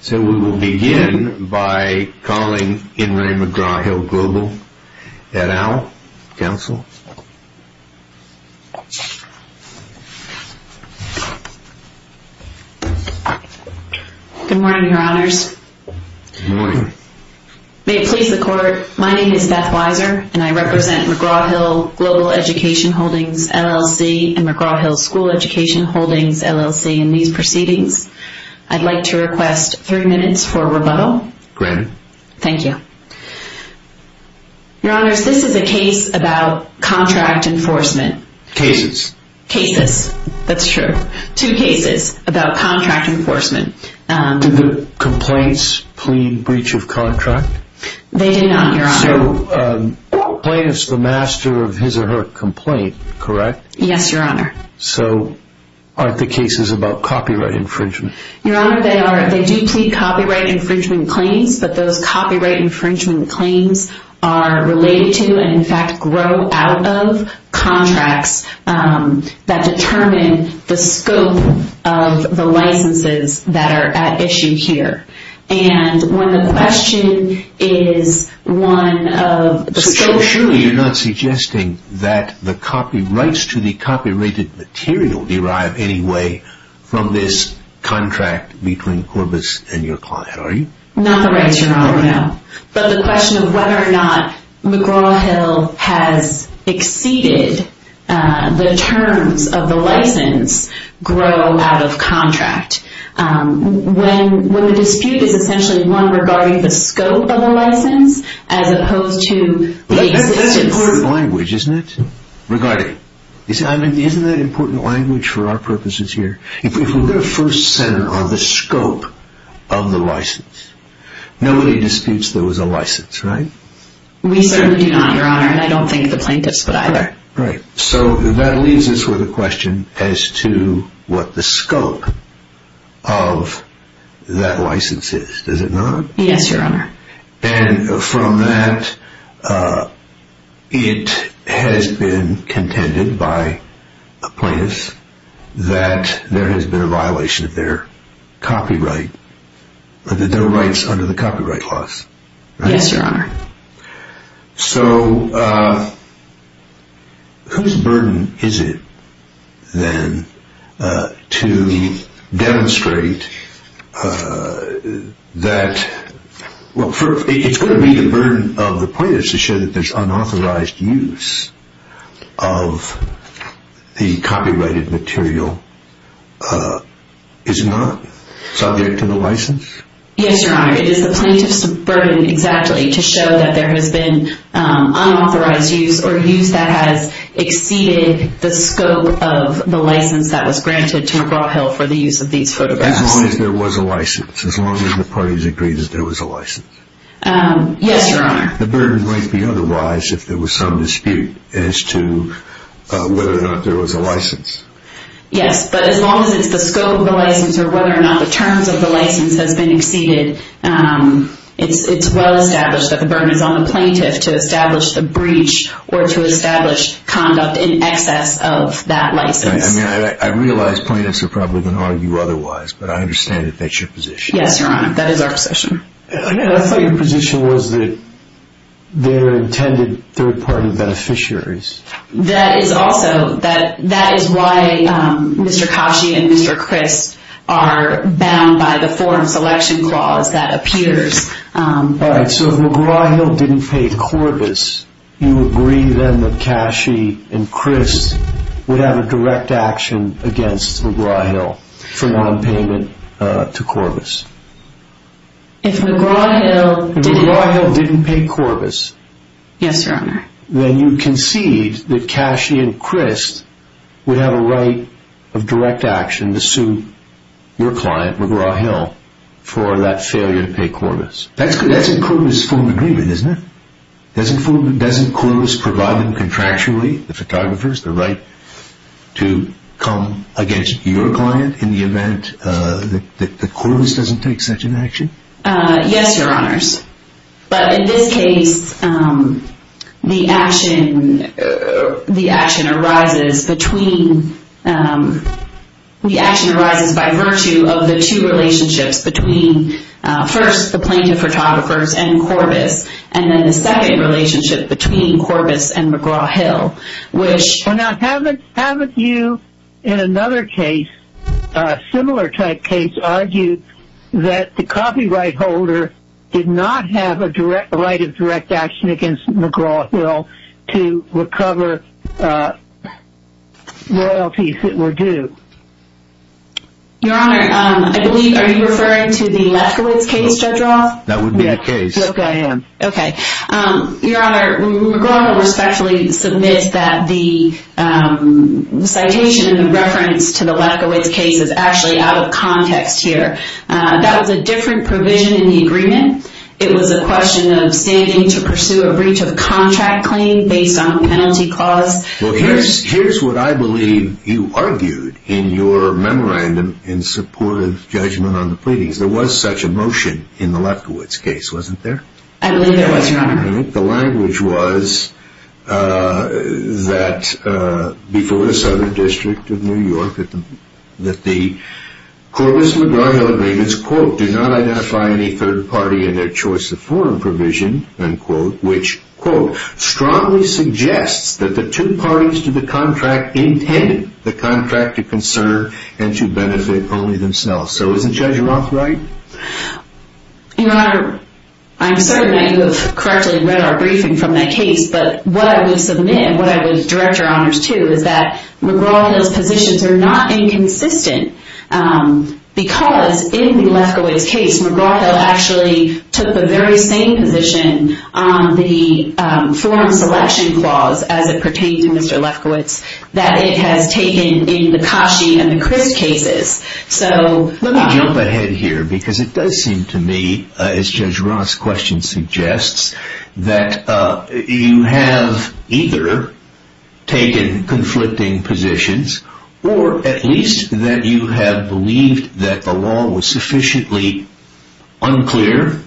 So we will begin by calling In Re McGraw Hill Global, Ed Owell, counsel. Good morning, your honors. Good morning. May it please the court, my name is Beth Weiser, and I represent McGraw Hill Global Education Holdings, LLC, and McGraw Hill School Education Holdings, LLC, in these proceedings. I'd like to request three minutes for rebuttal. Granted. Thank you. Your honors, this is a case about contract enforcement. Cases. Cases, that's true. Two cases about contract enforcement. Did the complaints plead breach of contract? They did not, your honor. So plaintiff's the master of his or her complaint, correct? Yes, your honor. So aren't the cases about copyright infringement? Your honor, they are. They do plead copyright infringement claims, but those copyright infringement claims are related to, and in fact grow out of, contracts that determine the scope of the licenses that are at issue here. And when the question is one of the scope here. copyrights to the copyrighted material derive any way from this contract between Corbis and your client, are you? Not the rights, your honor, no. But the question of whether or not McGraw Hill has exceeded the terms of the license grow out of contract. When the dispute is essentially one regarding the scope of the license as opposed to the existence. It's an important language, isn't it? Regarding. Isn't that an important language for our purposes here? If we're going to first center on the scope of the license, nobody disputes there was a license, right? We certainly do not, your honor, and I don't think the plaintiffs would either. Right. So that leaves us with a question as to what the scope of that license is. Does it not? Yes, your honor. And from that, it has been contended by a plaintiff that there has been a violation of their copyright. That their rights under the copyright laws. Yes, your honor. So whose burden is it then to demonstrate that, well, it's going to be the burden of the plaintiffs to show that there's unauthorized use of the copyrighted material, is it not? Subject to the license? Yes, your honor. It is the plaintiff's burden exactly to show that there has been unauthorized use or use that has exceeded the scope of the license that was granted to McGraw Hill for the use of these photographs. As long as there was a license. As long as the parties agreed that there was a license. Yes, your honor. The burden might be otherwise if there was some dispute as to whether or not there was a license. Yes, but as long as it's the scope of the license or whether or not the terms of the license has been exceeded, it's well established that the burden is on the plaintiff to establish the breach or to establish conduct in excess of that license. I realize plaintiffs are probably going to argue otherwise, but I understand that that's your position. Yes, your honor. That is our position. I thought your position was that they were intended third party beneficiaries. That is also why Mr. Cashi and Mr. Crist are bound by the forum selection clause that appears. All right, so if McGraw Hill didn't pay Corbis, you agree then that Cashi and Crist would have a direct action against McGraw Hill for nonpayment to Corbis? If McGraw Hill didn't pay Corbis. Yes, your honor. Then you concede that Cashi and Crist would have a right of direct action to sue your client, McGraw Hill, for that failure to pay Corbis. That's in Corbis' full agreement, isn't it? Doesn't Corbis provide them contractually, the photographers, the right to come against your client in the event that Corbis doesn't take such an action? Yes, your honors. But in this case, the action arises by virtue of the two relationships between, first, the plaintiff photographers and Corbis, and then the second relationship between Corbis and McGraw Hill. Well now, haven't you in another case, a similar type case, argued that the copyright holder did not have a right of direct action against McGraw Hill to recover royalties that were due? Your honor, I believe, are you referring to the Lefkowitz case, Judge Roth? That would be the case. Yes, I am. Okay. Your honor, McGraw Hill respectfully submits that the citation in reference to the Lefkowitz case is actually out of context here. That was a different provision in the agreement. It was a question of standing to pursue a breach of contract claim based on a penalty clause. Well, here's what I believe you argued in your memorandum in support of judgment on the pleadings. There was such a motion in the Lefkowitz case, wasn't there? I believe there was, your honor. The language was that, before the Southern District of New York, that the Corbis-McGraw-Hill agreements, quote, do not identify any third party in their choice of foreign provision, unquote, which, quote, strongly suggests that the two parties to the contract intended the contract to conserve and to benefit only themselves. So isn't Judge Roth right? Your honor, I'm certain that you have correctly read our briefing from that case, but what I would submit and what I would direct your honors to is that McGraw-Hill's positions are not inconsistent because, in the Lefkowitz case, McGraw-Hill actually took the very same position on the foreign selection clause, as it pertained to Mr. Lefkowitz, that it has taken in the Kashi and the Crist cases. Let me jump ahead here because it does seem to me, as Judge Roth's question suggests, that you have either taken conflicting positions or at least that you have believed that the law was sufficiently unclear,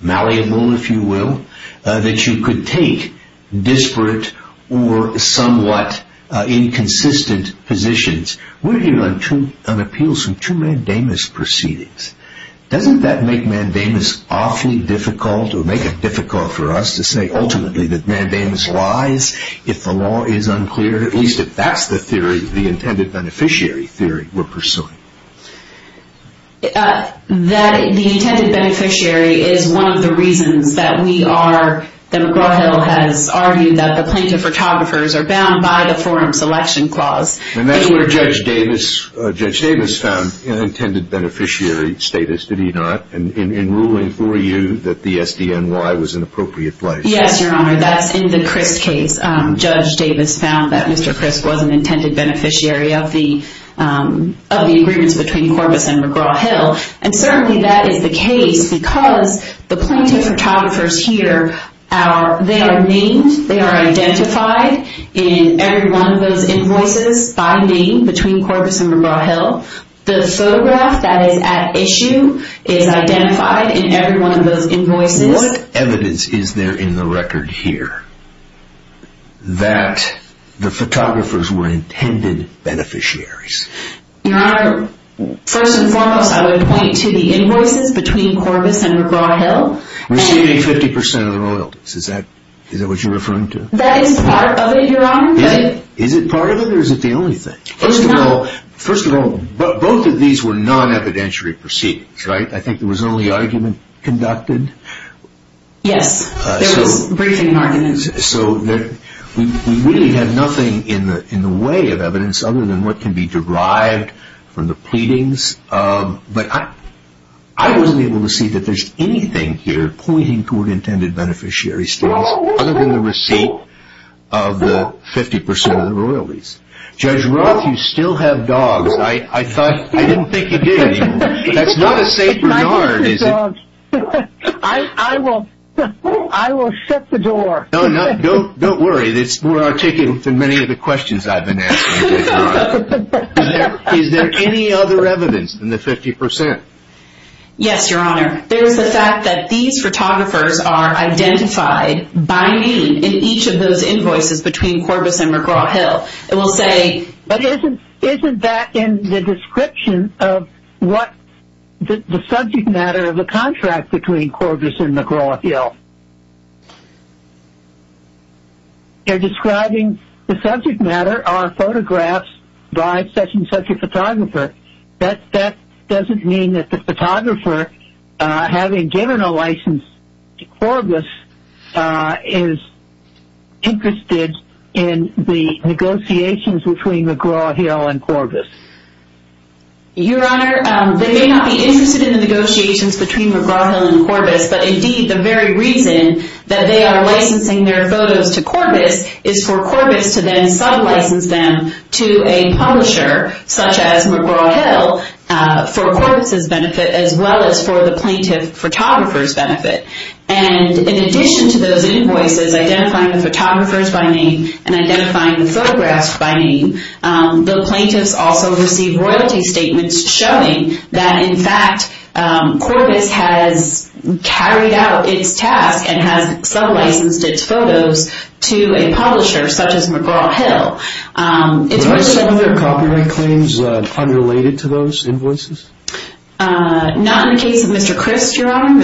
malleable, if you will, that you could take disparate or somewhat inconsistent positions. We're here on appeals from two mandamus proceedings. Doesn't that make mandamus awfully difficult or make it difficult for us to say ultimately that mandamus lies if the law is unclear, at least if that's the theory, the intended beneficiary theory we're pursuing? The intended beneficiary is one of the reasons that we are, that McGraw-Hill has argued, that the plaintiff photographers are bound by the foreign selection clause. And that's where Judge Davis found an intended beneficiary status, did he not, in ruling for you that the SDNY was an appropriate place? Yes, Your Honor, that's in the Crist case. Judge Davis found that Mr. Crist was an intended beneficiary of the agreements between Corbis and McGraw-Hill. And certainly that is the case because the plaintiff photographers here, they are named, they are identified in every one of those invoices by name between Corbis and McGraw-Hill. The photograph that is at issue is identified in every one of those invoices. What evidence is there in the record here that the photographers were intended beneficiaries? Your Honor, first and foremost, I would point to the invoices between Corbis and McGraw-Hill. We're seeing 50% of the royalties, is that what you're referring to? That is part of it, Your Honor. Is it part of it or is it the only thing? First of all, both of these were non-evidentiary proceedings, right? I think there was only argument conducted. Yes, there was briefing arguments. So we really had nothing in the way of evidence other than what can be derived from the pleadings. But I wasn't able to see that there's anything here pointing toward intended beneficiary states other than the receipt of the 50% of the royalties. Judge Roth, you still have dogs. I didn't think you did anymore. That's not a safe regard, is it? I will shut the door. No, don't worry. We're taking many of the questions I've been asking, Judge Roth. Is there any other evidence than the 50%? Yes, Your Honor. There is the fact that these photographers are identified by name in each of those invoices between Corbis and McGraw-Hill. But isn't that in the description of the subject matter of the contract between Corbis and McGraw-Hill? They're describing the subject matter are photographs by such and such a photographer. That doesn't mean that the photographer, having given a license to Corbis, is interested in the negotiations between McGraw-Hill and Corbis. Your Honor, they may not be interested in the negotiations between McGraw-Hill and Corbis, but indeed the very reason that they are licensing their photos to Corbis is for Corbis to then sub-license them to a publisher, such as McGraw-Hill, for Corbis' benefit as well as for the plaintiff photographer's benefit. And in addition to those invoices identifying the photographers by name and identifying the photographs by name, the plaintiffs also receive royalty statements showing that, in fact, Corbis has carried out its task and has sub-licensed its photos to a publisher, such as McGraw-Hill. Were some of their copyright claims unrelated to those invoices? Not in the case of Mr. Crist, Your Honor.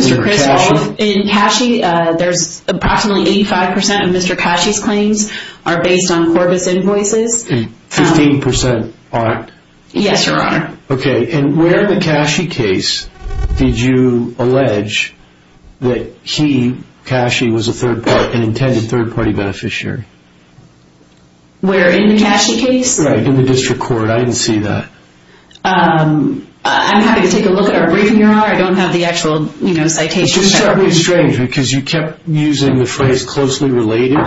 In Cashi, there's approximately 85% of Mr. Cashi's claims are based on Corbis' invoices. 15% aren't? Yes, Your Honor. Okay, and where in the Cashi case did you allege that he, Cashi, was a third-party, an intended third-party beneficiary? Where, in the Cashi case? Right, in the district court. I didn't see that. I'm happy to take a look at our briefing, Your Honor. I don't have the actual citation. It's just certainly strange, because you kept using the phrase, closely related.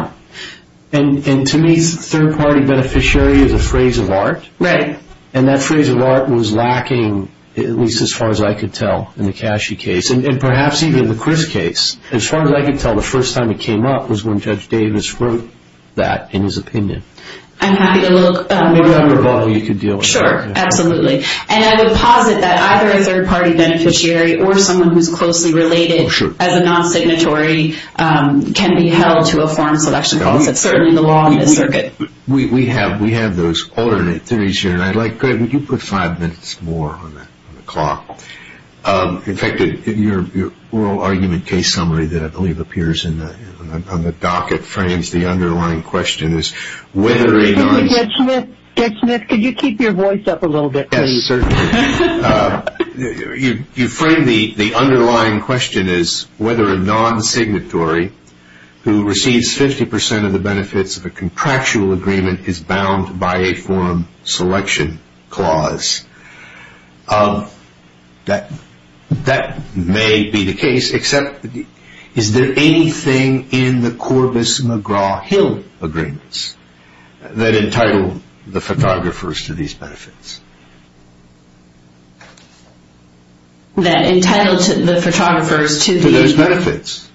And to me, third-party beneficiary is a phrase of art. Right. And that phrase of art was lacking, at least as far as I could tell, in the Cashi case. And perhaps even the Crist case. As far as I could tell, the first time it came up was when Judge Davis wrote that in his opinion. I'm happy to look. Maybe Dr. Baldwin, you could deal with that. Sure, absolutely. And I would posit that either a third-party beneficiary or someone who's closely related as a non-signatory can be held to a foreign selection case. That's certainly the law in this circuit. We have those alternate theories here. And I'd like, Greg, would you put five minutes more on the clock? In fact, in your oral argument case summary that I believe appears on the docket frames, the underlying question is whether a non-signatory who receives 50% of the benefits of a contractual agreement is bound by a foreign selection clause. That may be the case, except is there anything in the Corbus McGraw-Hill agreements that entitled the photographers to these benefits? That entitled the photographers to the? To those benefits.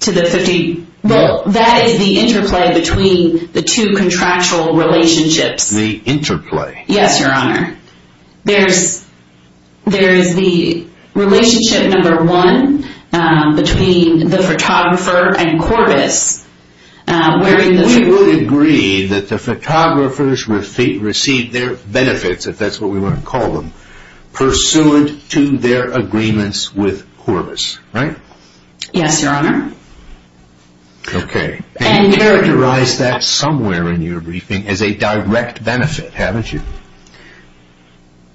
To the 50? Well, that is the interplay between the two contractual relationships. The interplay. Yes, Your Honor. There is the relationship number one between the photographer and Corbus. We would agree that the photographers received their benefits, if that's what we want to call them, pursuant to their agreements with Corbus, right? Yes, Your Honor. Okay. And you characterized that somewhere in your briefing as a direct benefit, haven't you?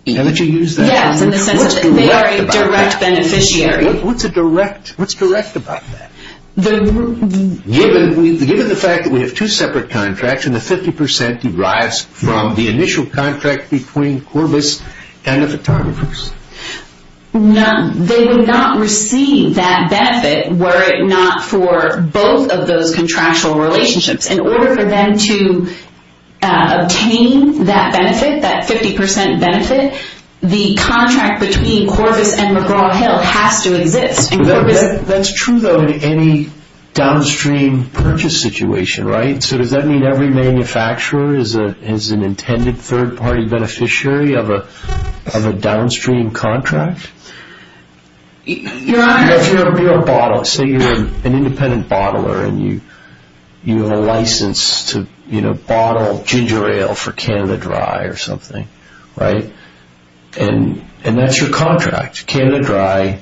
Haven't you used that? Yes, in the sense that they are a direct beneficiary. What's direct about that? Given the fact that we have two separate contracts and the 50% derives from the initial contract between Corbus and the photographers. No, they would not receive that benefit were it not for both of those contractual relationships. In order for them to obtain that benefit, that 50% benefit, the contract between Corbus and McGraw-Hill has to exist. That's true, though, in any downstream purchase situation, right? So does that mean every manufacturer is an intended third-party beneficiary of a downstream contract? Your Honor. If you're a bottle, say you're an independent bottler and you have a license to bottle ginger ale for Canada Dry or something, right? And that's your contract. Canada Dry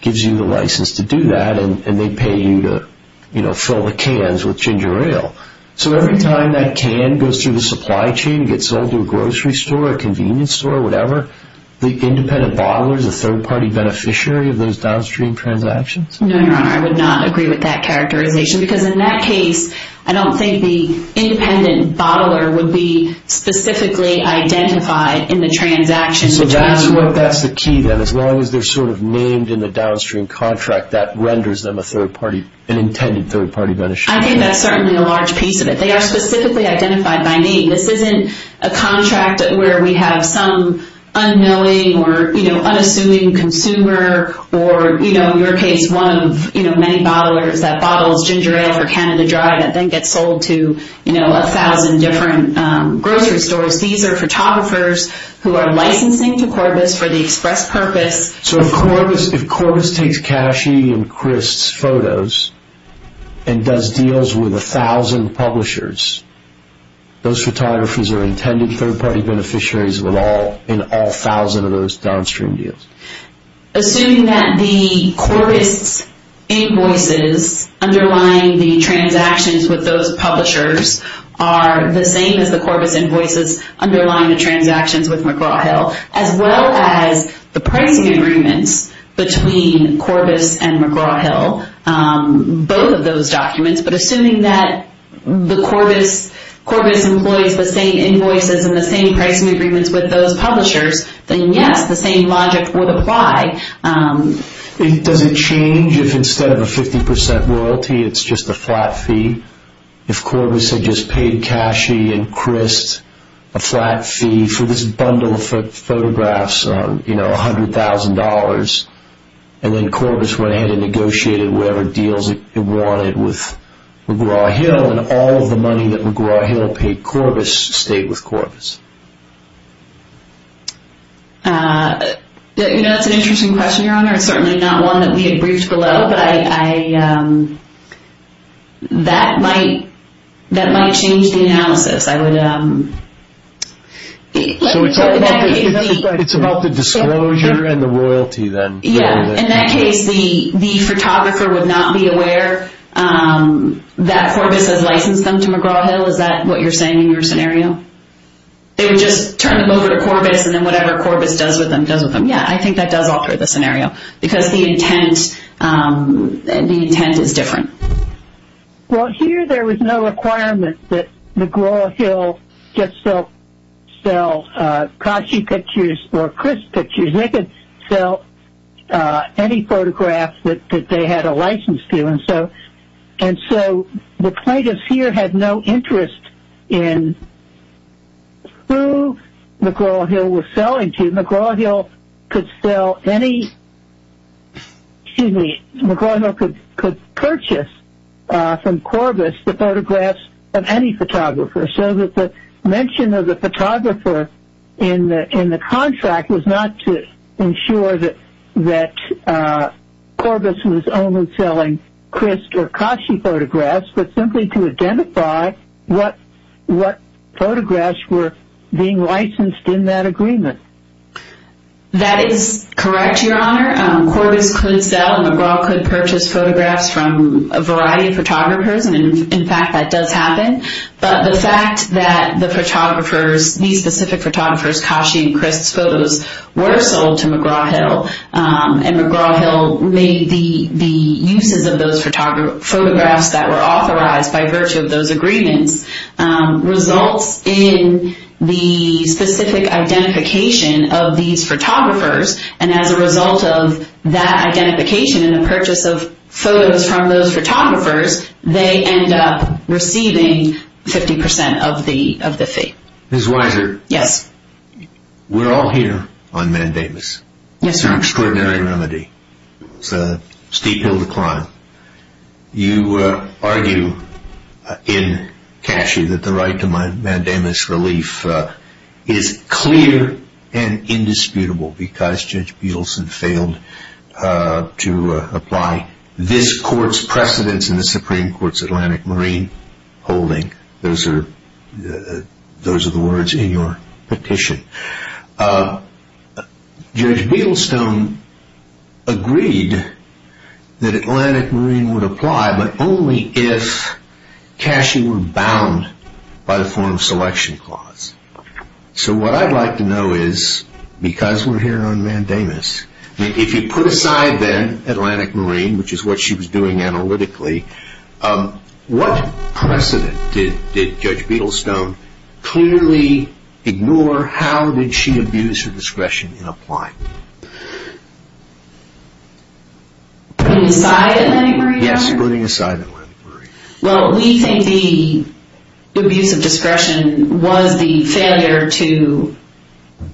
gives you the license to do that and they pay you to fill the cans with ginger ale. So every time that can goes through the supply chain, gets sold to a grocery store, a convenience store, whatever, the independent bottler is a third-party beneficiary of those downstream transactions? No, Your Honor. I would not agree with that characterization because in that case, I don't think the independent bottler would be specifically identified in the transaction. So that's the key, then. As long as they're sort of named in the downstream contract, that renders them a third-party, an intended third-party beneficiary. I think that's certainly a large piece of it. They are specifically identified by name. This isn't a contract where we have some unknowing or unassuming consumer or, in your case, one of many bottlers that bottles ginger ale for Canada Dry and then gets sold to 1,000 different grocery stores. These are photographers who are licensing to Corbis for the express purpose. So if Corbis takes Cashy and Chris' photos and does deals with 1,000 publishers, those photographers are intended third-party beneficiaries in all 1,000 of those downstream deals? Assuming that the Corbis invoices underlying the transactions with those publishers are the same as the Corbis invoices underlying the transactions with McGraw-Hill, as well as the pricing agreements between Corbis and McGraw-Hill, both of those documents, but assuming that the Corbis employs the same invoices and the same pricing agreements with those publishers, then yes, the same logic would apply. Does it change if instead of a 50% royalty, it's just a flat fee? If Corbis had just paid Cashy and Chris a flat fee for this bundle of photographs on $100,000 and then Corbis went ahead and negotiated whatever deals it wanted with McGraw-Hill and all of the money that McGraw-Hill paid Corbis stayed with Corbis? That's an interesting question, Your Honor. It's certainly not one that we had briefed below, but that might change the analysis. So it's about the disclosure and the royalty then? Yeah, in that case, the photographer would not be aware that Corbis has licensed them to McGraw-Hill. Is that what you're saying in your scenario? They would just turn them over to Corbis and then whatever Corbis does with them, does with them. Yeah, I think that does alter the scenario because the intent is different. Well, here there was no requirement that McGraw-Hill just sell Cashy pictures or Chris pictures. They could sell any photograph that they had a license to, and so the plaintiffs here had no interest in who McGraw-Hill was selling to. McGraw-Hill could purchase from Corbis the photographs of any photographer, so that the mention of the photographer in the contract was not to ensure that Corbis was only selling Chris or Cashy photographs, but simply to identify what photographs were being licensed in that agreement. That is correct, Your Honor. Corbis could sell and McGraw could purchase photographs from a variety of photographers, and in fact that does happen, but the fact that these specific photographers, Cashy and Chris photos, were sold to McGraw-Hill, and McGraw-Hill made the uses of those photographs that were authorized by virtue of those agreements, results in the specific identification of these photographers, and as a result of that identification and the purchase of photos from those photographers, they end up receiving 50% of the fee. Ms. Weiser, we're all here on mandamus. It's an extraordinary remedy. It's a steep hill to climb. You argue in Cashy that the right to mandamus relief is clear and indisputable, because Judge Beedlestone failed to apply this court's precedence in the Supreme Court's Atlantic Marine holding. Those are the words in your petition. Judge Beedlestone agreed that Atlantic Marine would apply, but only if Cashy were bound by the form of selection clause. So what I'd like to know is, because we're here on mandamus, if you put aside then Atlantic Marine, which is what she was doing analytically, what precedent did Judge Beedlestone clearly ignore? How did she abuse her discretion in applying? Putting aside Atlantic Marine? Yes, putting aside Atlantic Marine. Well, we think the abuse of discretion was the failure to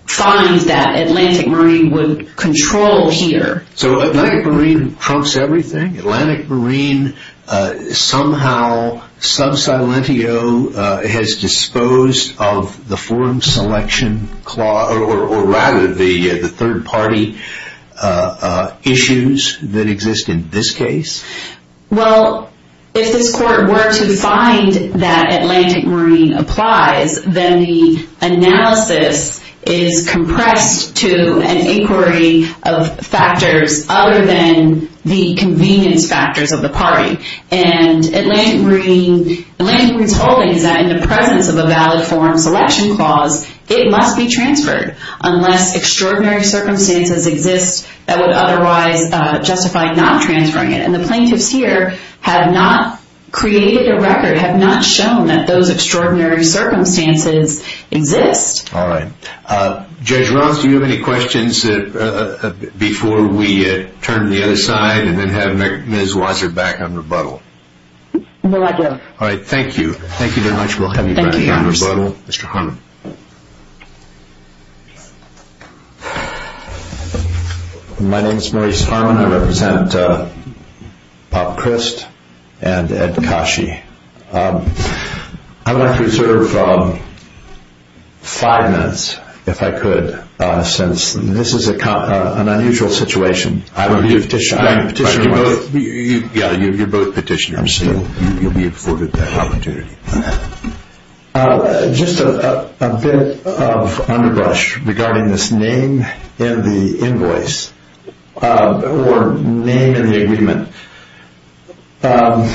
find that Atlantic Marine would control here. So Atlantic Marine trumps everything? Atlantic Marine somehow, sub silentio, has disposed of the form selection clause, or rather the third party issues that exist in this case? Well, if this court were to find that Atlantic Marine applies, then the analysis is compressed to an inquiry of factors other than the convenience factors of the party. And Atlantic Marine's holding is that in the presence of a valid form selection clause, it must be transferred unless extraordinary circumstances exist that would otherwise justify not transferring it. And the plaintiffs here have not created a record, have not shown that those extraordinary circumstances exist. All right. Judge Ross, do you have any questions before we turn to the other side and then have Ms. Wasser back on rebuttal? No, I do. All right. Thank you. Thank you very much. We'll have you back on rebuttal. Mr. Harmon. My name is Maurice Harmon. I represent Bob Crist and Ed Kashi. I would like to reserve five minutes, if I could, since this is an unusual situation. I'm a petitioner. You're both petitioners, so you'll be afforded that opportunity. Just a bit of underbrush regarding this name in the invoice or name in the agreement. The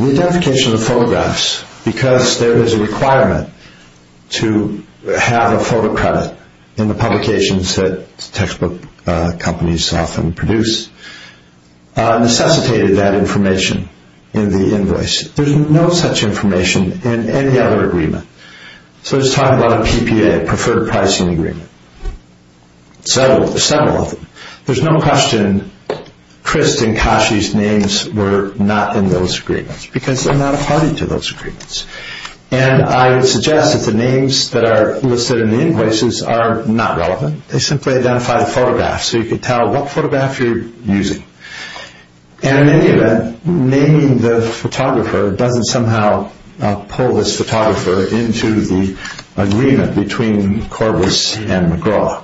identification of the photographs, because there is a requirement to have a photo credit in the publications that textbook companies often produce, necessitated that information in the invoice. There's no such information in any other agreement. So let's talk about a PPA, Preferred Pricing Agreement. Several of them. There's no question Crist and Kashi's names were not in those agreements because they're not party to those agreements. And I would suggest that the names that are listed in the invoices are not relevant. They simply identify the photographs so you can tell what photograph you're using. And in any event, naming the photographer doesn't somehow pull this photographer into the agreement between Corbus and McGraw.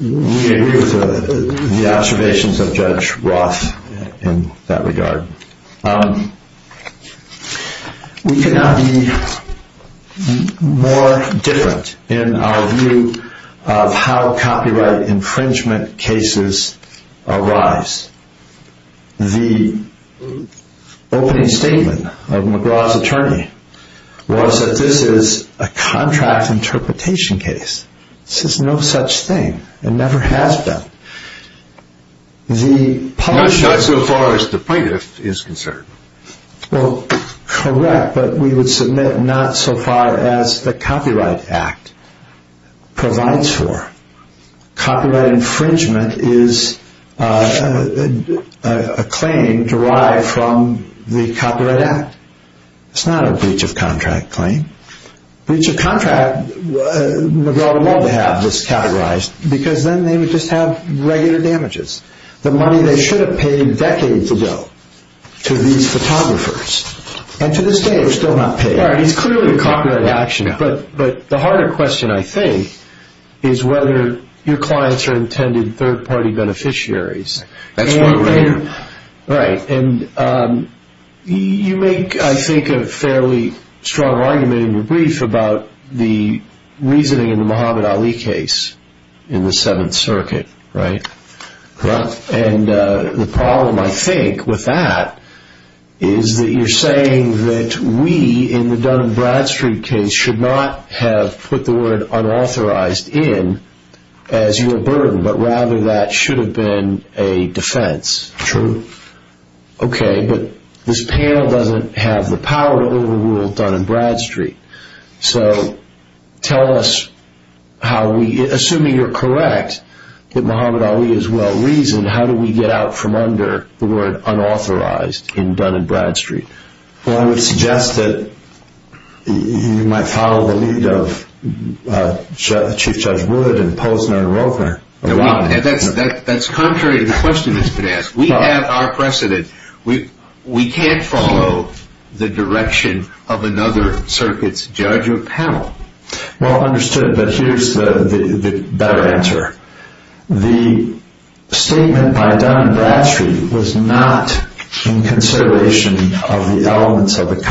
We agree with the observations of Judge Roth in that regard. We cannot be more different in our view of how copyright infringement cases arise. The opening statement of McGraw's attorney was that this is a contract interpretation case. This is no such thing. It never has been. Not so far as the plaintiff is concerned. Well, correct, but we would submit not so far as the Copyright Act provides for. Copyright infringement is a claim derived from the Copyright Act. It's not a breach of contract claim. Breach of contract, McGraw would love to have this categorized because then they would just have regular damages. The money they should have paid decades ago to these photographers. And to this day, they're still not paid. Right, it's clearly a copyright action. But the harder question, I think, is whether your clients are intended third-party beneficiaries. That's one way to put it. Right, and you make, I think, a fairly strong argument in your brief about the reasoning in the Muhammad Ali case in the Seventh Circuit, right? And the problem, I think, with that is that you're saying that we, in the Dun & Bradstreet case, should not have put the word unauthorized in as your burden, but rather that should have been a defense. That's true. Okay, but this panel doesn't have the power to overrule Dun & Bradstreet. So tell us how we, assuming you're correct that Muhammad Ali is well-reasoned, how do we get out from under the word unauthorized in Dun & Bradstreet? Well, I would suggest that you might follow the lead of Chief Judge Wood and Posner and Rother. That's contrary to the question that's been asked. We have our precedent. We can't follow the direction of another circuit's judge or panel. Well understood, but here's the better answer. The statement by Dun & Bradstreet was not in consideration of the elements of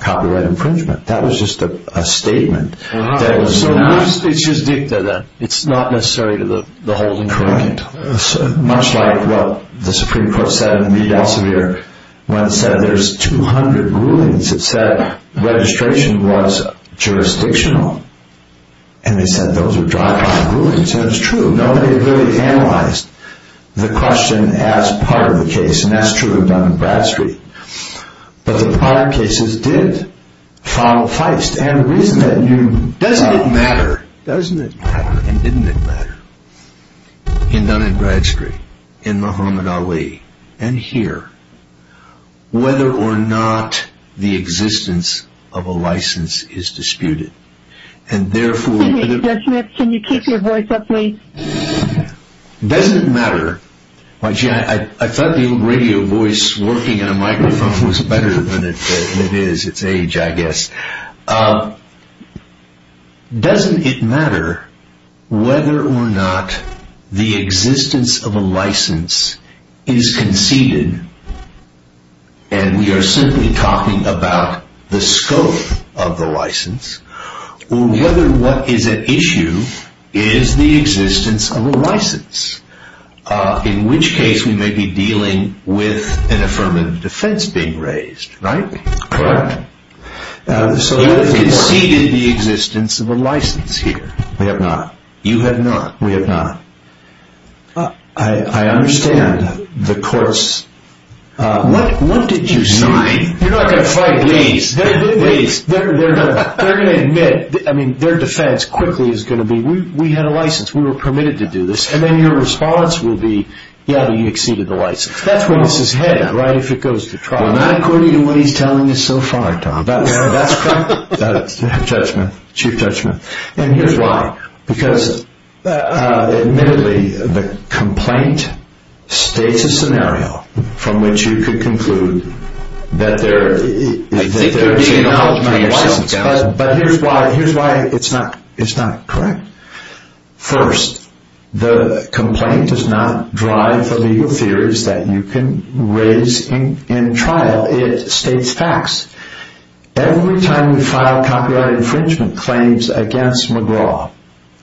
copyright infringement. That was just a statement. So it's just dicta, then? It's not necessary to hold them accountable? Correct. Much like what the Supreme Court said in the media last year, when it said there's 200 rulings, it said registration was jurisdictional, and they said those were dry-fired rulings, and it's true. Nobody really analyzed the question as part of the case, and that's true of Dun & Bradstreet. But the prior cases did follow Feist, and the reason that you... Doesn't it matter, doesn't it matter, and didn't it matter, in Dun & Bradstreet, in Muhammad Ali, and here, whether or not the existence of a license is disputed, and therefore... Excuse me, Judge Smith, can you keep your voice up, please? Doesn't it matter... I thought the old radio voice working in a microphone was better than it is. It's age, I guess. Doesn't it matter whether or not the existence of a license is conceded, and we are simply talking about the scope of the license, or whether what is at issue is the existence of a license, in which case we may be dealing with an affirmative defense being raised, right? Correct. You have conceded the existence of a license here. I have not. You have not. We have not. I understand the courts... What did you say? You're not going to fight, please. They're going to admit, I mean, their defense quickly is going to be, we had a license, we were permitted to do this, and then your response will be, yeah, but you exceeded the license. That's where this is headed, right, if it goes to trial. Well, not according to what he's telling us so far, Tom. That's correct, Judge Smith, Chief Judge Smith. And here's why, because admittedly, the complaint states a scenario from which you could conclude that there is an acknowledgement of a license, but here's why it's not correct. First, the complaint does not drive the legal theories that you can raise in trial. It states facts. Every time we file copyright infringement claims against McGraw,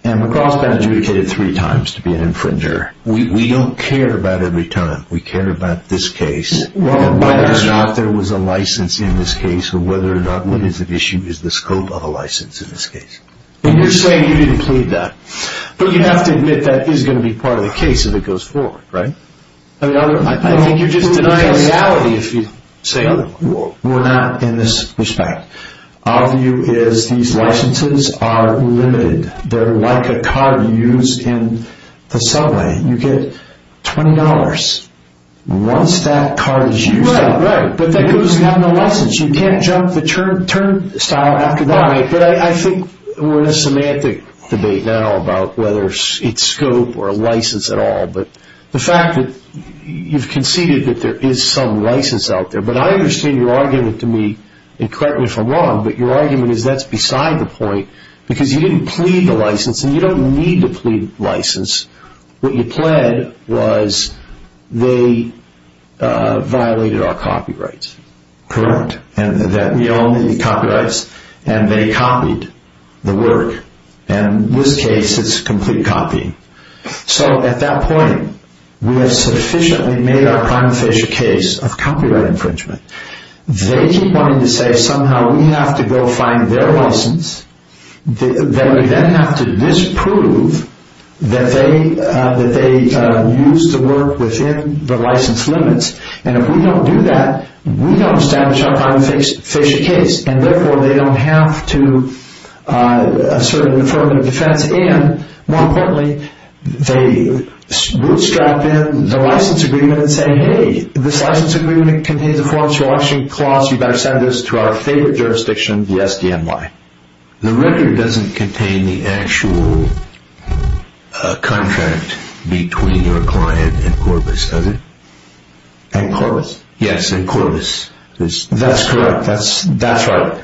and McGraw has been adjudicated three times to be an infringer, we don't care about every time. We care about this case. Whether or not there was a license in this case, or whether or not what is at issue is the scope of a license in this case. And you're saying you didn't plead that. But you have to admit that is going to be part of the case if it goes forward, right? I think you're just denying reality if you say otherwise. We're not in this respect. Our view is these licenses are limited. They're like a car used in the subway. You get $20 once that car is used. Right, right. But that goes without a license. You can't jump the turnstile after that. But I think we're in a semantic debate now about whether it's scope or a license at all. But the fact that you've conceded that there is some license out there, but I understand your argument to me, and correct me if I'm wrong, but your argument is that's beside the point because you didn't plead the license, and you don't need to plead the license. What you pled was they violated our copyrights. Correct. We own the copyrights, and they copied the work. And in this case, it's complete copying. So at that point, we have sufficiently made our prima facie case of copyright infringement. They keep wanting to say somehow we have to go find their license, that we then have to disprove that they used the work within the license limits. And if we don't do that, we don't establish our prima facie case. And therefore, they don't have to assert an affirmative defense. And more importantly, they bootstrap in the license agreement and say, Hey, this license agreement contains the forms for auctioning cloths. You better send this to our favorite jurisdiction, the SDNY. The record doesn't contain the actual contract between your client and Corbis, does it? And Corbis? Yes, and Corbis. That's correct. That's right.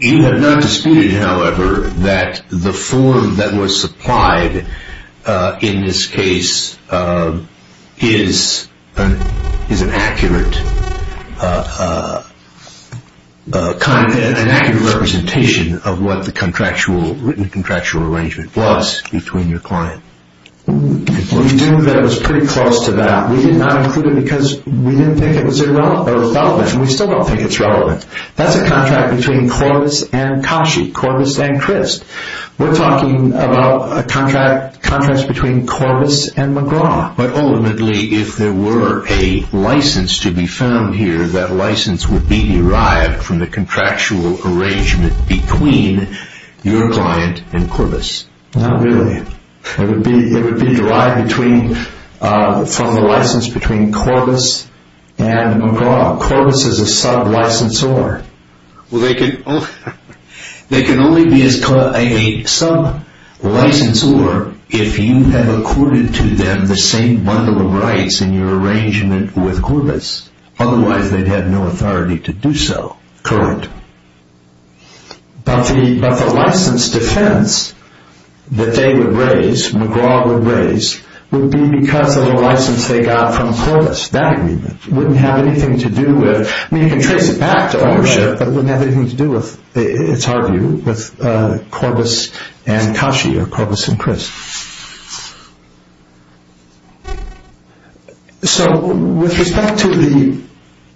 You have not disputed, however, that the form that was supplied in this case is an accurate representation of what the written contractual arrangement was between your client. We do know that it was pretty close to that. We did not include it because we didn't think it was relevant, and we still don't think it's relevant. That's a contract between Corbis and Kashi, Corbis and Christ. We're talking about contracts between Corbis and McGraw. But ultimately, if there were a license to be found here, that license would be derived from the contractual arrangement between your client and Corbis. Not really. It would be derived from the license between Corbis and McGraw. Corbis is a sub-licensor. Well, they can only be a sub-licensor if you have accorded to them the same bundle of rights in your arrangement with Corbis. Otherwise, they'd have no authority to do so currently. But the license defense that they would raise, McGraw would raise, would be because of the license they got from Corbis. That agreement wouldn't have anything to do with, I mean, you can trace it back to ownership, but it wouldn't have anything to do with, it's our view, with Corbis and Kashi or Corbis and Christ. So with respect to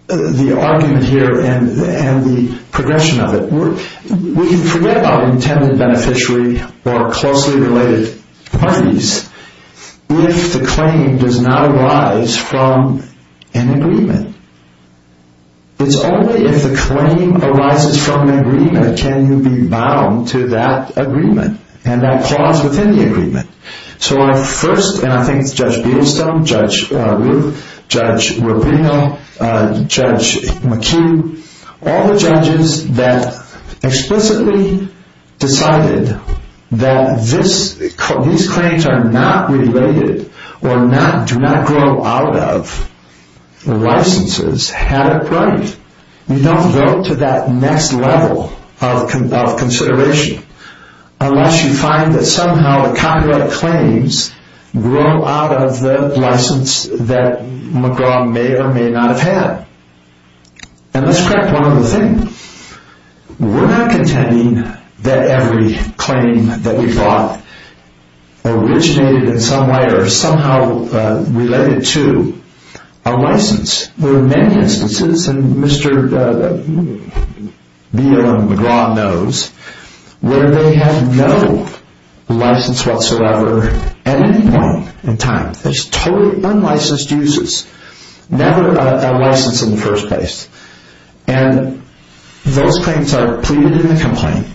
the argument here and the progression of it, we forget about intended beneficiary or closely related parties if the claim does not arise from an agreement. It's only if the claim arises from an agreement can you be bound to that agreement and that clause within the agreement. So I first, and I think it's Judge Beedlestone, Judge Ruth, Judge Rubino, Judge McHugh, all the judges that explicitly decided that these claims are not related or do not grow out of licenses had it right. You don't go to that next level of consideration unless you find that somehow the copyright claims grow out of the license that McGraw may or may not have had. And let's crack one other thing. We're not contending that every claim that we've brought originated in some way or somehow related to a license. There are many instances, and Mr. Beal and McGraw knows, where they have no license whatsoever at any point in time. There's totally unlicensed uses, never a license in the first place. And those claims are pleaded in the complaint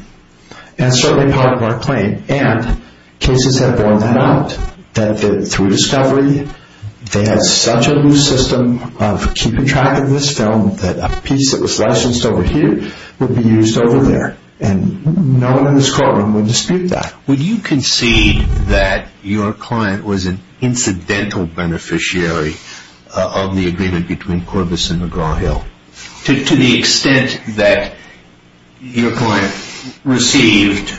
and certainly part of our claim, and cases have borne that out through discovery. They had such a loose system of keeping track of this film that a piece that was licensed over here would be used over there, and no one in this courtroom would dispute that. Would you concede that your client was an incidental beneficiary of the agreement between Corbis and McGraw-Hill to the extent that your client received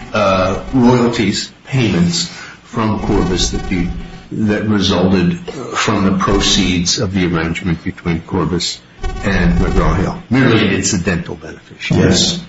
royalties payments from Corbis that resulted from the proceeds of the arrangement between Corbis and McGraw-Hill, merely an incidental beneficiary? Yes.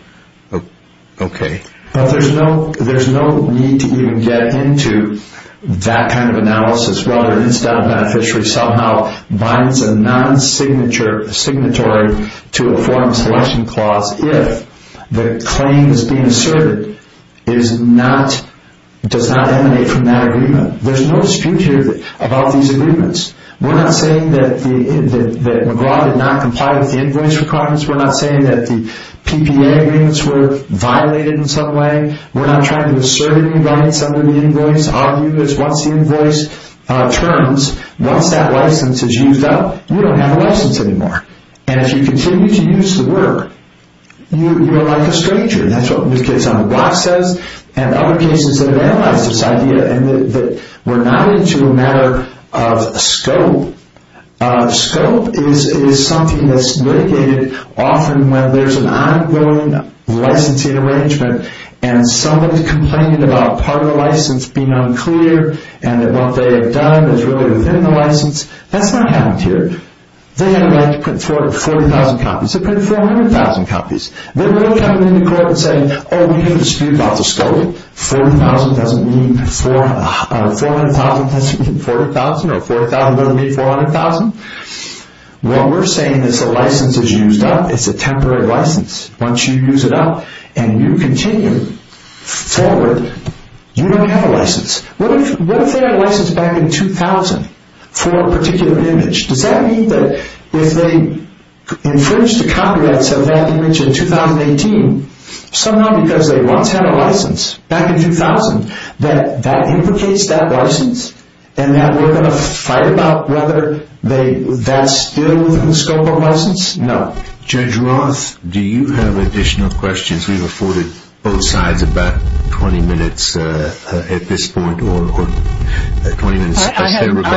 Okay. But there's no need to even get into that kind of analysis whether an incidental beneficiary somehow binds a non-signatory to a form selection clause if the claim that's being asserted does not emanate from that agreement. There's no dispute here about these agreements. We're not saying that McGraw did not comply with the invoice requirements. We're not saying that the PPA agreements were violated in some way. We're not trying to assert any rights under the invoice. Our view is once the invoice turns, once that license is used up, you don't have a license anymore. And if you continue to use the word, you are like a stranger. That's what the case on the block says and other cases that have analyzed this idea and that we're not into a matter of scope. Scope is something that's litigated often when there's an ongoing licensing arrangement and somebody's complaining about part of the license being unclear and that what they have done is really within the license. That's not happened here. They had a right to print 40,000 copies. They printed 400,000 copies. They're not coming into court and saying, oh, we have a dispute about the scope. 40,000 doesn't mean 400,000 or 40,000 doesn't mean 400,000. What we're saying is the license is used up. It's a temporary license. Once you use it up and you continue forward, you don't have a license. What if they had a license back in 2000 for a particular image? Does that mean that if they infringed the copyrights of that image in 2018, somehow because they once had a license back in 2000, that that implicates that license and that we're going to fight about whether that's still within the scope of license? No. Judge Roth, do you have additional questions? We've afforded both sides about 20 minutes at this point. I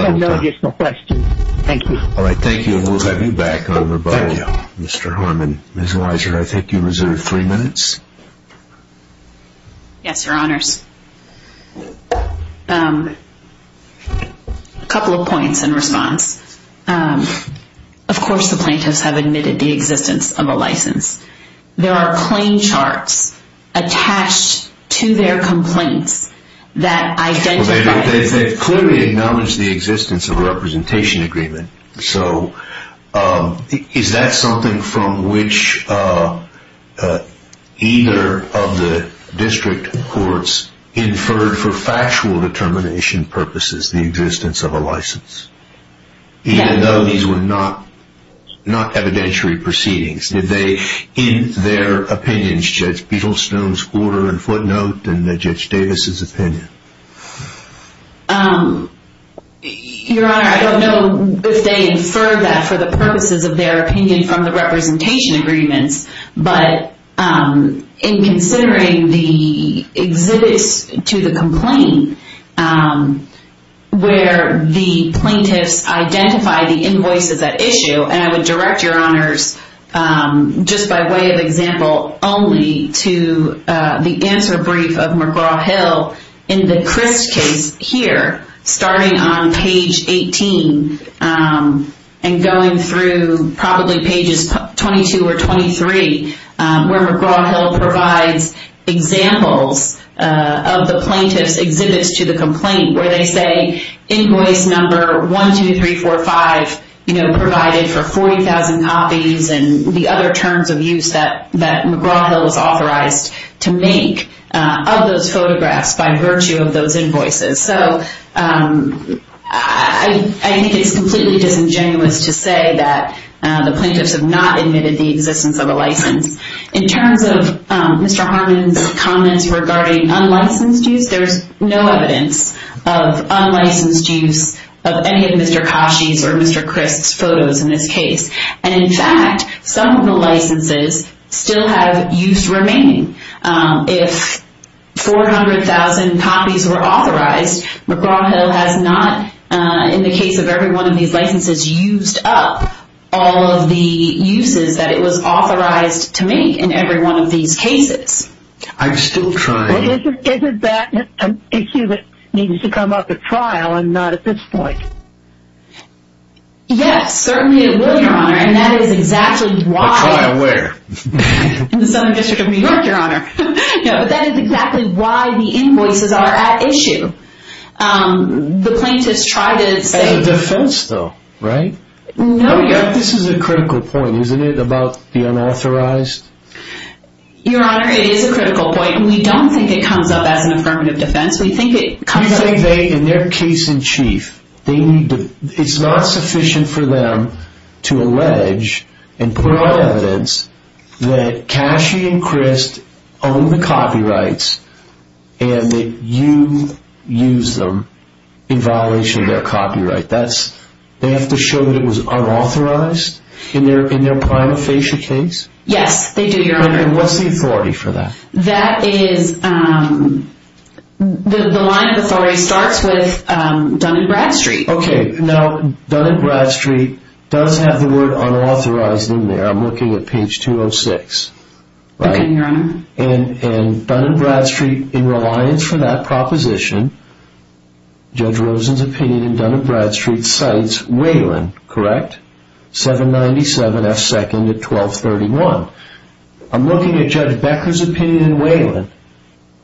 have no additional questions. Thank you. All right. Thank you, and we'll have you back on rebuttal, Mr. Harmon. Ms. Weiser, I think you reserved three minutes. Yes, Your Honors. A couple of points in response. Of course the plaintiffs have admitted the existence of a license. There are claim charts attached to their complaints that identify it. They clearly acknowledge the existence of a representation agreement. Is that something from which either of the district courts inferred for factual determination purposes the existence of a license, even though these were not evidentiary proceedings? Did they, in their opinions, Judge Beetlestone's order and footnote and Judge Davis's opinion? Your Honor, I don't know if they inferred that for the purposes of their opinion from the representation agreements, but in considering the exhibits to the complaint where the plaintiffs identify the invoices at issue, and I would direct Your Honors just by way of example only to the answer brief of McGraw-Hill in the Crist case here, starting on page 18 and going through probably pages 22 or 23, where McGraw-Hill provides examples of the plaintiff's exhibits to the complaint where they say invoice number 12345 provided for 40,000 copies and the other terms of use that McGraw-Hill was authorized to make of those photographs by virtue of those invoices. So I think it's completely disingenuous to say that the plaintiffs have not admitted the existence of a license. In terms of Mr. Harmon's comments regarding unlicensed use, there's no evidence of unlicensed use of any of Mr. Kashi's or Mr. Crisk's photos in this case. And in fact, some of the licenses still have use remaining. If 400,000 copies were authorized, McGraw-Hill has not, in the case of every one of these licenses, used up all of the uses that it was authorized to make in every one of these cases. I'm still trying. Isn't that an issue that needs to come up at trial and not at this point? Yes, certainly it will, Your Honor, and that is exactly why... At trial where? In the Southern District of New York, Your Honor. But that is exactly why the invoices are at issue. The plaintiffs try to say... As a defense, though, right? No, Your Honor. This is a critical point, isn't it, about the unauthorized? Your Honor, it is a critical point, and we don't think it comes up as an affirmative defense. We think it comes up... You think they, in their case in chief, they need to... It's not sufficient for them to allege and put on evidence that Cashi and Crist own the copyrights and that you used them in violation of their copyright. They have to show that it was unauthorized in their prima facie case? Yes, they do, Your Honor. And what's the authority for that? That is... The line of authority starts with Dun & Bradstreet. Okay. Now, Dun & Bradstreet does have the word unauthorized in there. I'm looking at page 206, right? Okay, Your Honor. And Dun & Bradstreet, in reliance for that proposition, Judge Rosen's opinion in Dun & Bradstreet cites Waylon, correct? 797 F. 2nd at 1231. I'm looking at Judge Becker's opinion in Waylon.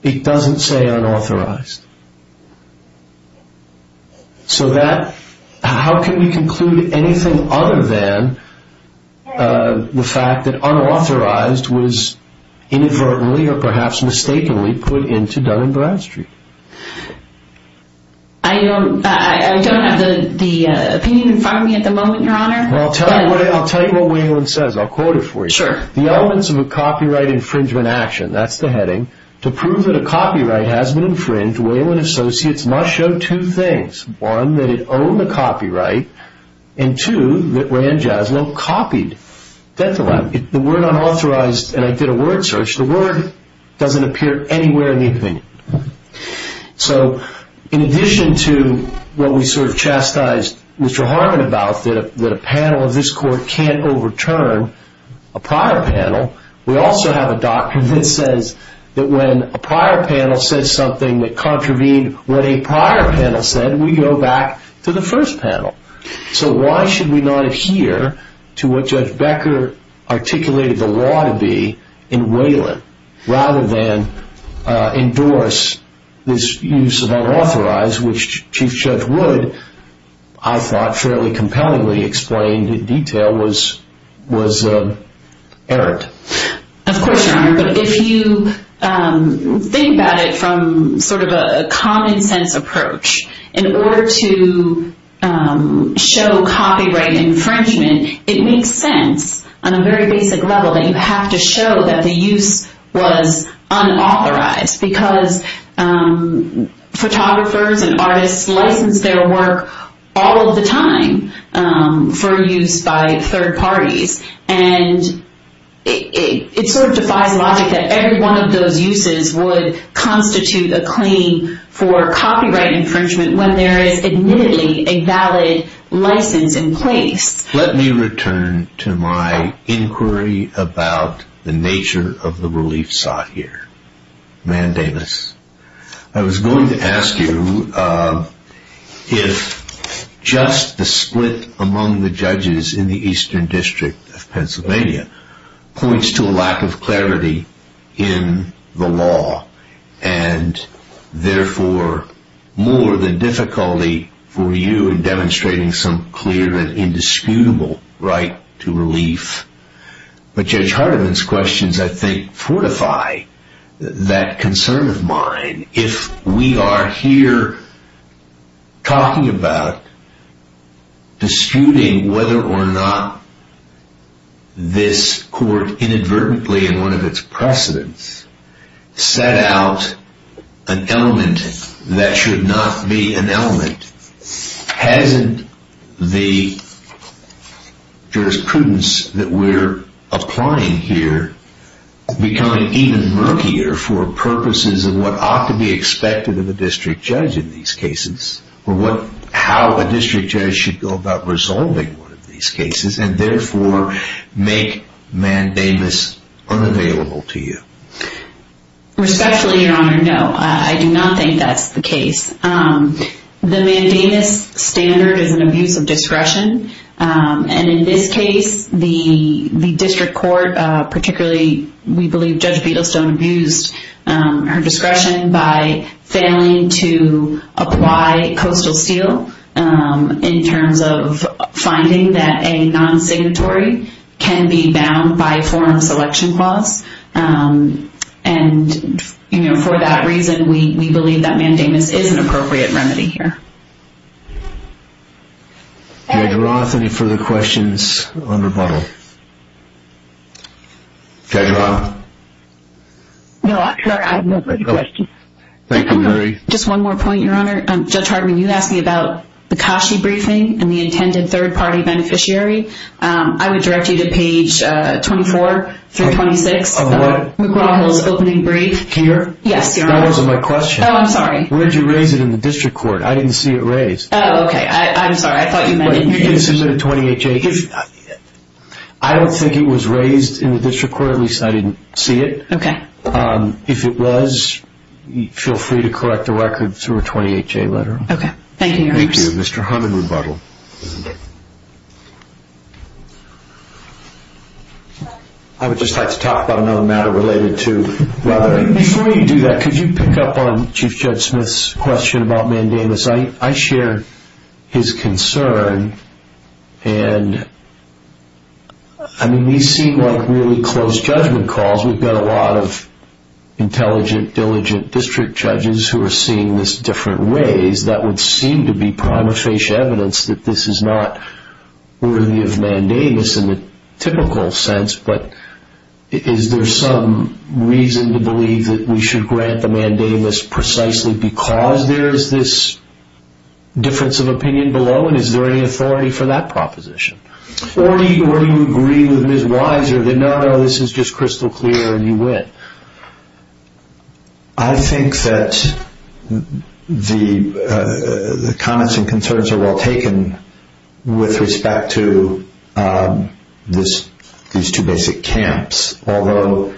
It doesn't say unauthorized. So that... How can we conclude anything other than the fact that unauthorized was inadvertently or perhaps mistakenly put into Dun & Bradstreet? I don't have the opinion in front of me at the moment, Your Honor. Well, I'll tell you what Waylon says. I'll quote it for you. Sure. The elements of a copyright infringement action, that's the heading, to prove that a copyright has been infringed, Waylon Associates must show two things. One, that it owned the copyright. And two, that Rand Jaslin copied. That's a lie. The word unauthorized... And I did a word search. The word doesn't appear anywhere in the opinion. So in addition to what we sort of chastised Mr. Harmon about, that a panel of this court can't overturn a prior panel, we also have a doctrine that says that when a prior panel says something that contravened what a prior panel said, we go back to the first panel. So why should we not adhere to what Judge Becker articulated the law to be in Waylon, rather than endorse this use of unauthorized, which Chief Judge Wood, I thought, fairly compellingly explained in detail, was errant. Of course, Your Honor. But if you think about it from sort of a common sense approach, in order to show copyright infringement, it makes sense on a very basic level that you have to show that the use was unauthorized. Because photographers and artists license their work all of the time for use by third parties. And it sort of defies logic that every one of those uses would constitute a claim for copyright infringement when there is admittedly a valid license in place. Let me return to my inquiry about the nature of the relief sought here. Man Davis. I was going to ask you if just the split among the judges in the Eastern District of Pennsylvania points to a lack of clarity in the law, and therefore more than difficulty for you in demonstrating some clear and indisputable right to relief. But Judge Hardiman's questions, I think, fortify that concern of mine. If we are here talking about disputing whether or not this court inadvertently, in one of its precedents, set out an element that should not be an element, hasn't the jurisprudence that we're applying here become even murkier for purposes of what ought to be expected of a district judge in these cases, or how a district judge should go about resolving one of these cases, and therefore make Man Davis unavailable to you? Respectfully, Your Honor, no. I do not think that's the case. The Man Davis standard is an abuse of discretion. And in this case, the district court, particularly, we believe Judge Biddlestone, abused her discretion by failing to apply coastal steel in terms of finding that a non-signatory can be bound by forum selection clause. And for that reason, we believe that Man Davis is an appropriate remedy here. Judge Roth, any further questions on rebuttal? Judge Roth? No, I'm sorry. I have no further questions. Thank you, Mary. Just one more point, Your Honor. Judge Hardiman, you asked me about the Kashi briefing and the intended third-party beneficiary. I would direct you to page 24 through 26 of McGraw-Hill's opening brief. Can you hear me? Yes, Your Honor. That wasn't my question. Oh, I'm sorry. Where did you raise it in the district court? I didn't see it raised. Oh, okay. I'm sorry. I thought you meant in here. You didn't submit a 28-J? I don't think it was raised in the district court. At least, I didn't see it. Okay. If it was, feel free to correct the record through a 28-J letter. Okay. Thank you, Your Honor. Thank you. Mr. Hardiman, rebuttal. I would just like to talk about another matter related to whether— Before you do that, could you pick up on Chief Judge Smith's question about mandamus? I share his concern. And, I mean, these seem like really close judgment calls. We've got a lot of intelligent, diligent district judges who are seeing this different ways. That would seem to be prima facie evidence that this is not worthy of mandamus in the typical sense. But is there some reason to believe that we should grant the mandamus precisely because there is this difference of opinion below? And is there any authority for that proposition? Or do you agree with Ms. Weiser that, no, no, this is just crystal clear and you win? I think that the comments and concerns are well taken with respect to these two basic camps. Although,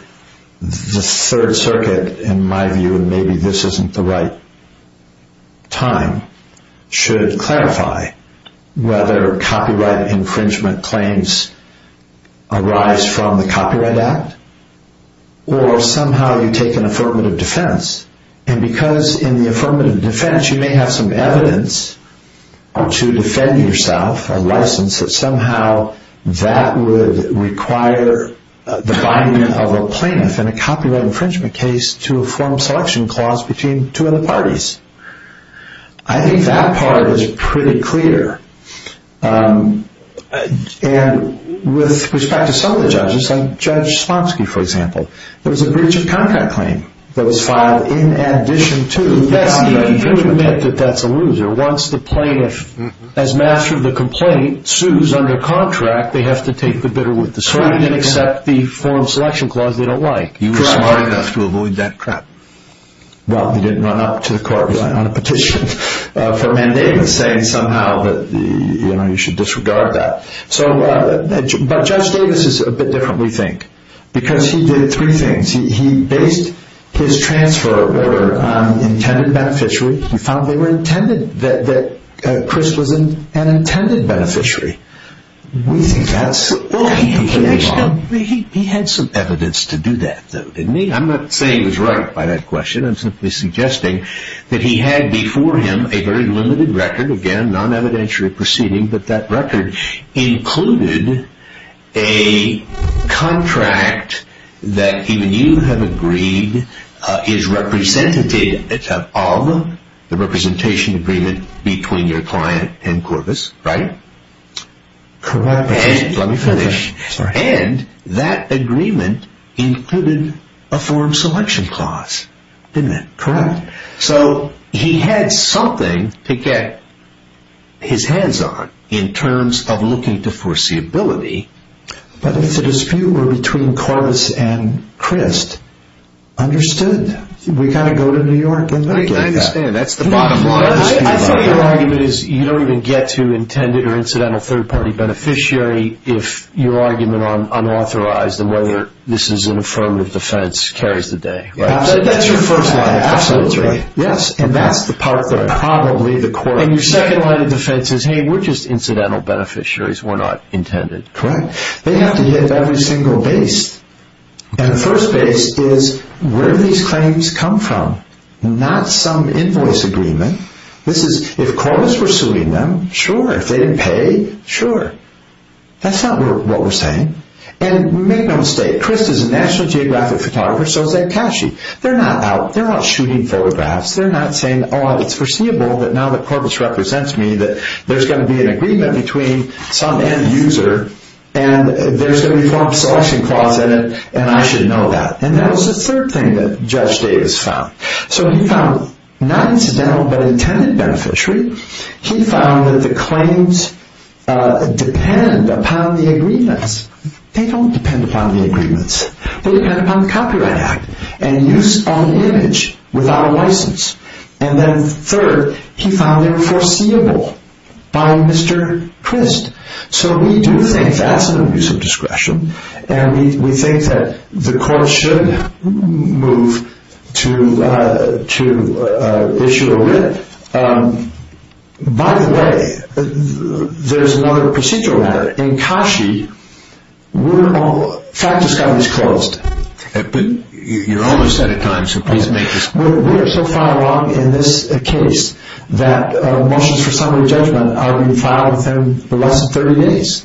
the Third Circuit, in my view, and maybe this isn't the right time, should clarify whether copyright infringement claims arise from the Copyright Act, or somehow you take an affirmative defense. And because in the affirmative defense you may have some evidence to defend yourself, a license, that somehow that would require the binding of a plaintiff in a copyright infringement case to a form of selection clause between two other parties. I think that part is pretty clear. And with respect to some of the judges, like Judge Smotsky, for example, there was a breach of contract claim that was filed in addition to that. You admit that that's a loser. Once the plaintiff, as master of the complaint, sues under contract, they have to take the bitter with the sweet and accept the form of selection clause they don't like. You were smart enough to avoid that trap. Well, he didn't run up to the court on a petition for a mandate, saying somehow that you should disregard that. But Judge Davis is a bit different, we think, because he did three things. He based his transfer order on intended beneficiary. He found they were intended, that Chris was an intended beneficiary. He had some evidence to do that, though, didn't he? I'm not saying he was right by that question. I'm simply suggesting that he had before him a very limited record, again, non-evidentiary proceeding, but that record included a contract that even you have agreed is representative of the representation agreement between your client and Corvus, right? Correct. Let me finish. And that agreement included a form of selection clause, didn't it? Correct. So he had something to get his hands on in terms of looking to foreseeability. But if the dispute were between Corvus and Crist, understood, we've got to go to New York and look at that. I understand. That's the bottom line. I think your argument is you don't even get to intended or incidental third-party beneficiary if your argument on unauthorized and whether this is an affirmative defense carries the day, right? Absolutely. That's your first line of defense, right? Absolutely, yes. And that's the part that probably the court should... And your second line of defense is, hey, we're just incidental beneficiaries. We're not intended. Correct. They have to hit every single base. And the first base is, where do these claims come from? Not some invoice agreement. This is, if Corvus were suing them, sure. If they didn't pay, sure. That's not what we're saying. And make no mistake, Crist is a National Geographic photographer, so is Ed Kashi. They're not out shooting photographs. They're not saying, oh, it's foreseeable that now that Corvus represents me that there's going to be an agreement between some end user and there's going to be a form of selection clause in it, and I should know that. And that was the third thing that Judge Davis found. So he found not incidental but intended beneficiary. He found that the claims depend upon the agreements. They don't depend upon the agreements. They depend upon the Copyright Act and use of an image without a license. And then third, he found them foreseeable by Mr. Crist. So we do think that's an abuse of discretion, and we think that the court should move to issue a writ. By the way, there's another procedural matter. In Kashi, we're all ‑‑ fact discovery is closed. But you're almost out of time, so please make this quick. We're so far along in this case that motions for summary judgment are being filed within less than 30 days.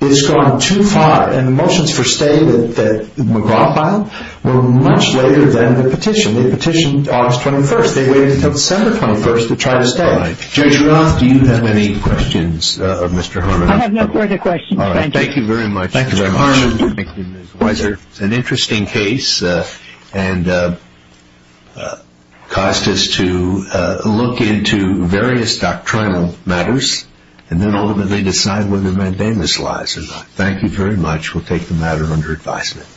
It's gone too far, and the motions for stay that McGraw filed were much later than the petition. They petitioned August 21st. They waited until December 21st to try to stay. All right. Judge Roth, do you have any questions of Mr. Harmon? I have no further questions. All right. Thank you, Mr. Harmon. Thank you, Ms. Weiser. It's an interesting case and caused us to look into various doctrinal matters and then ultimately decide whether to mandamus lies or not. Thank you very much. We'll take the matter under advisement.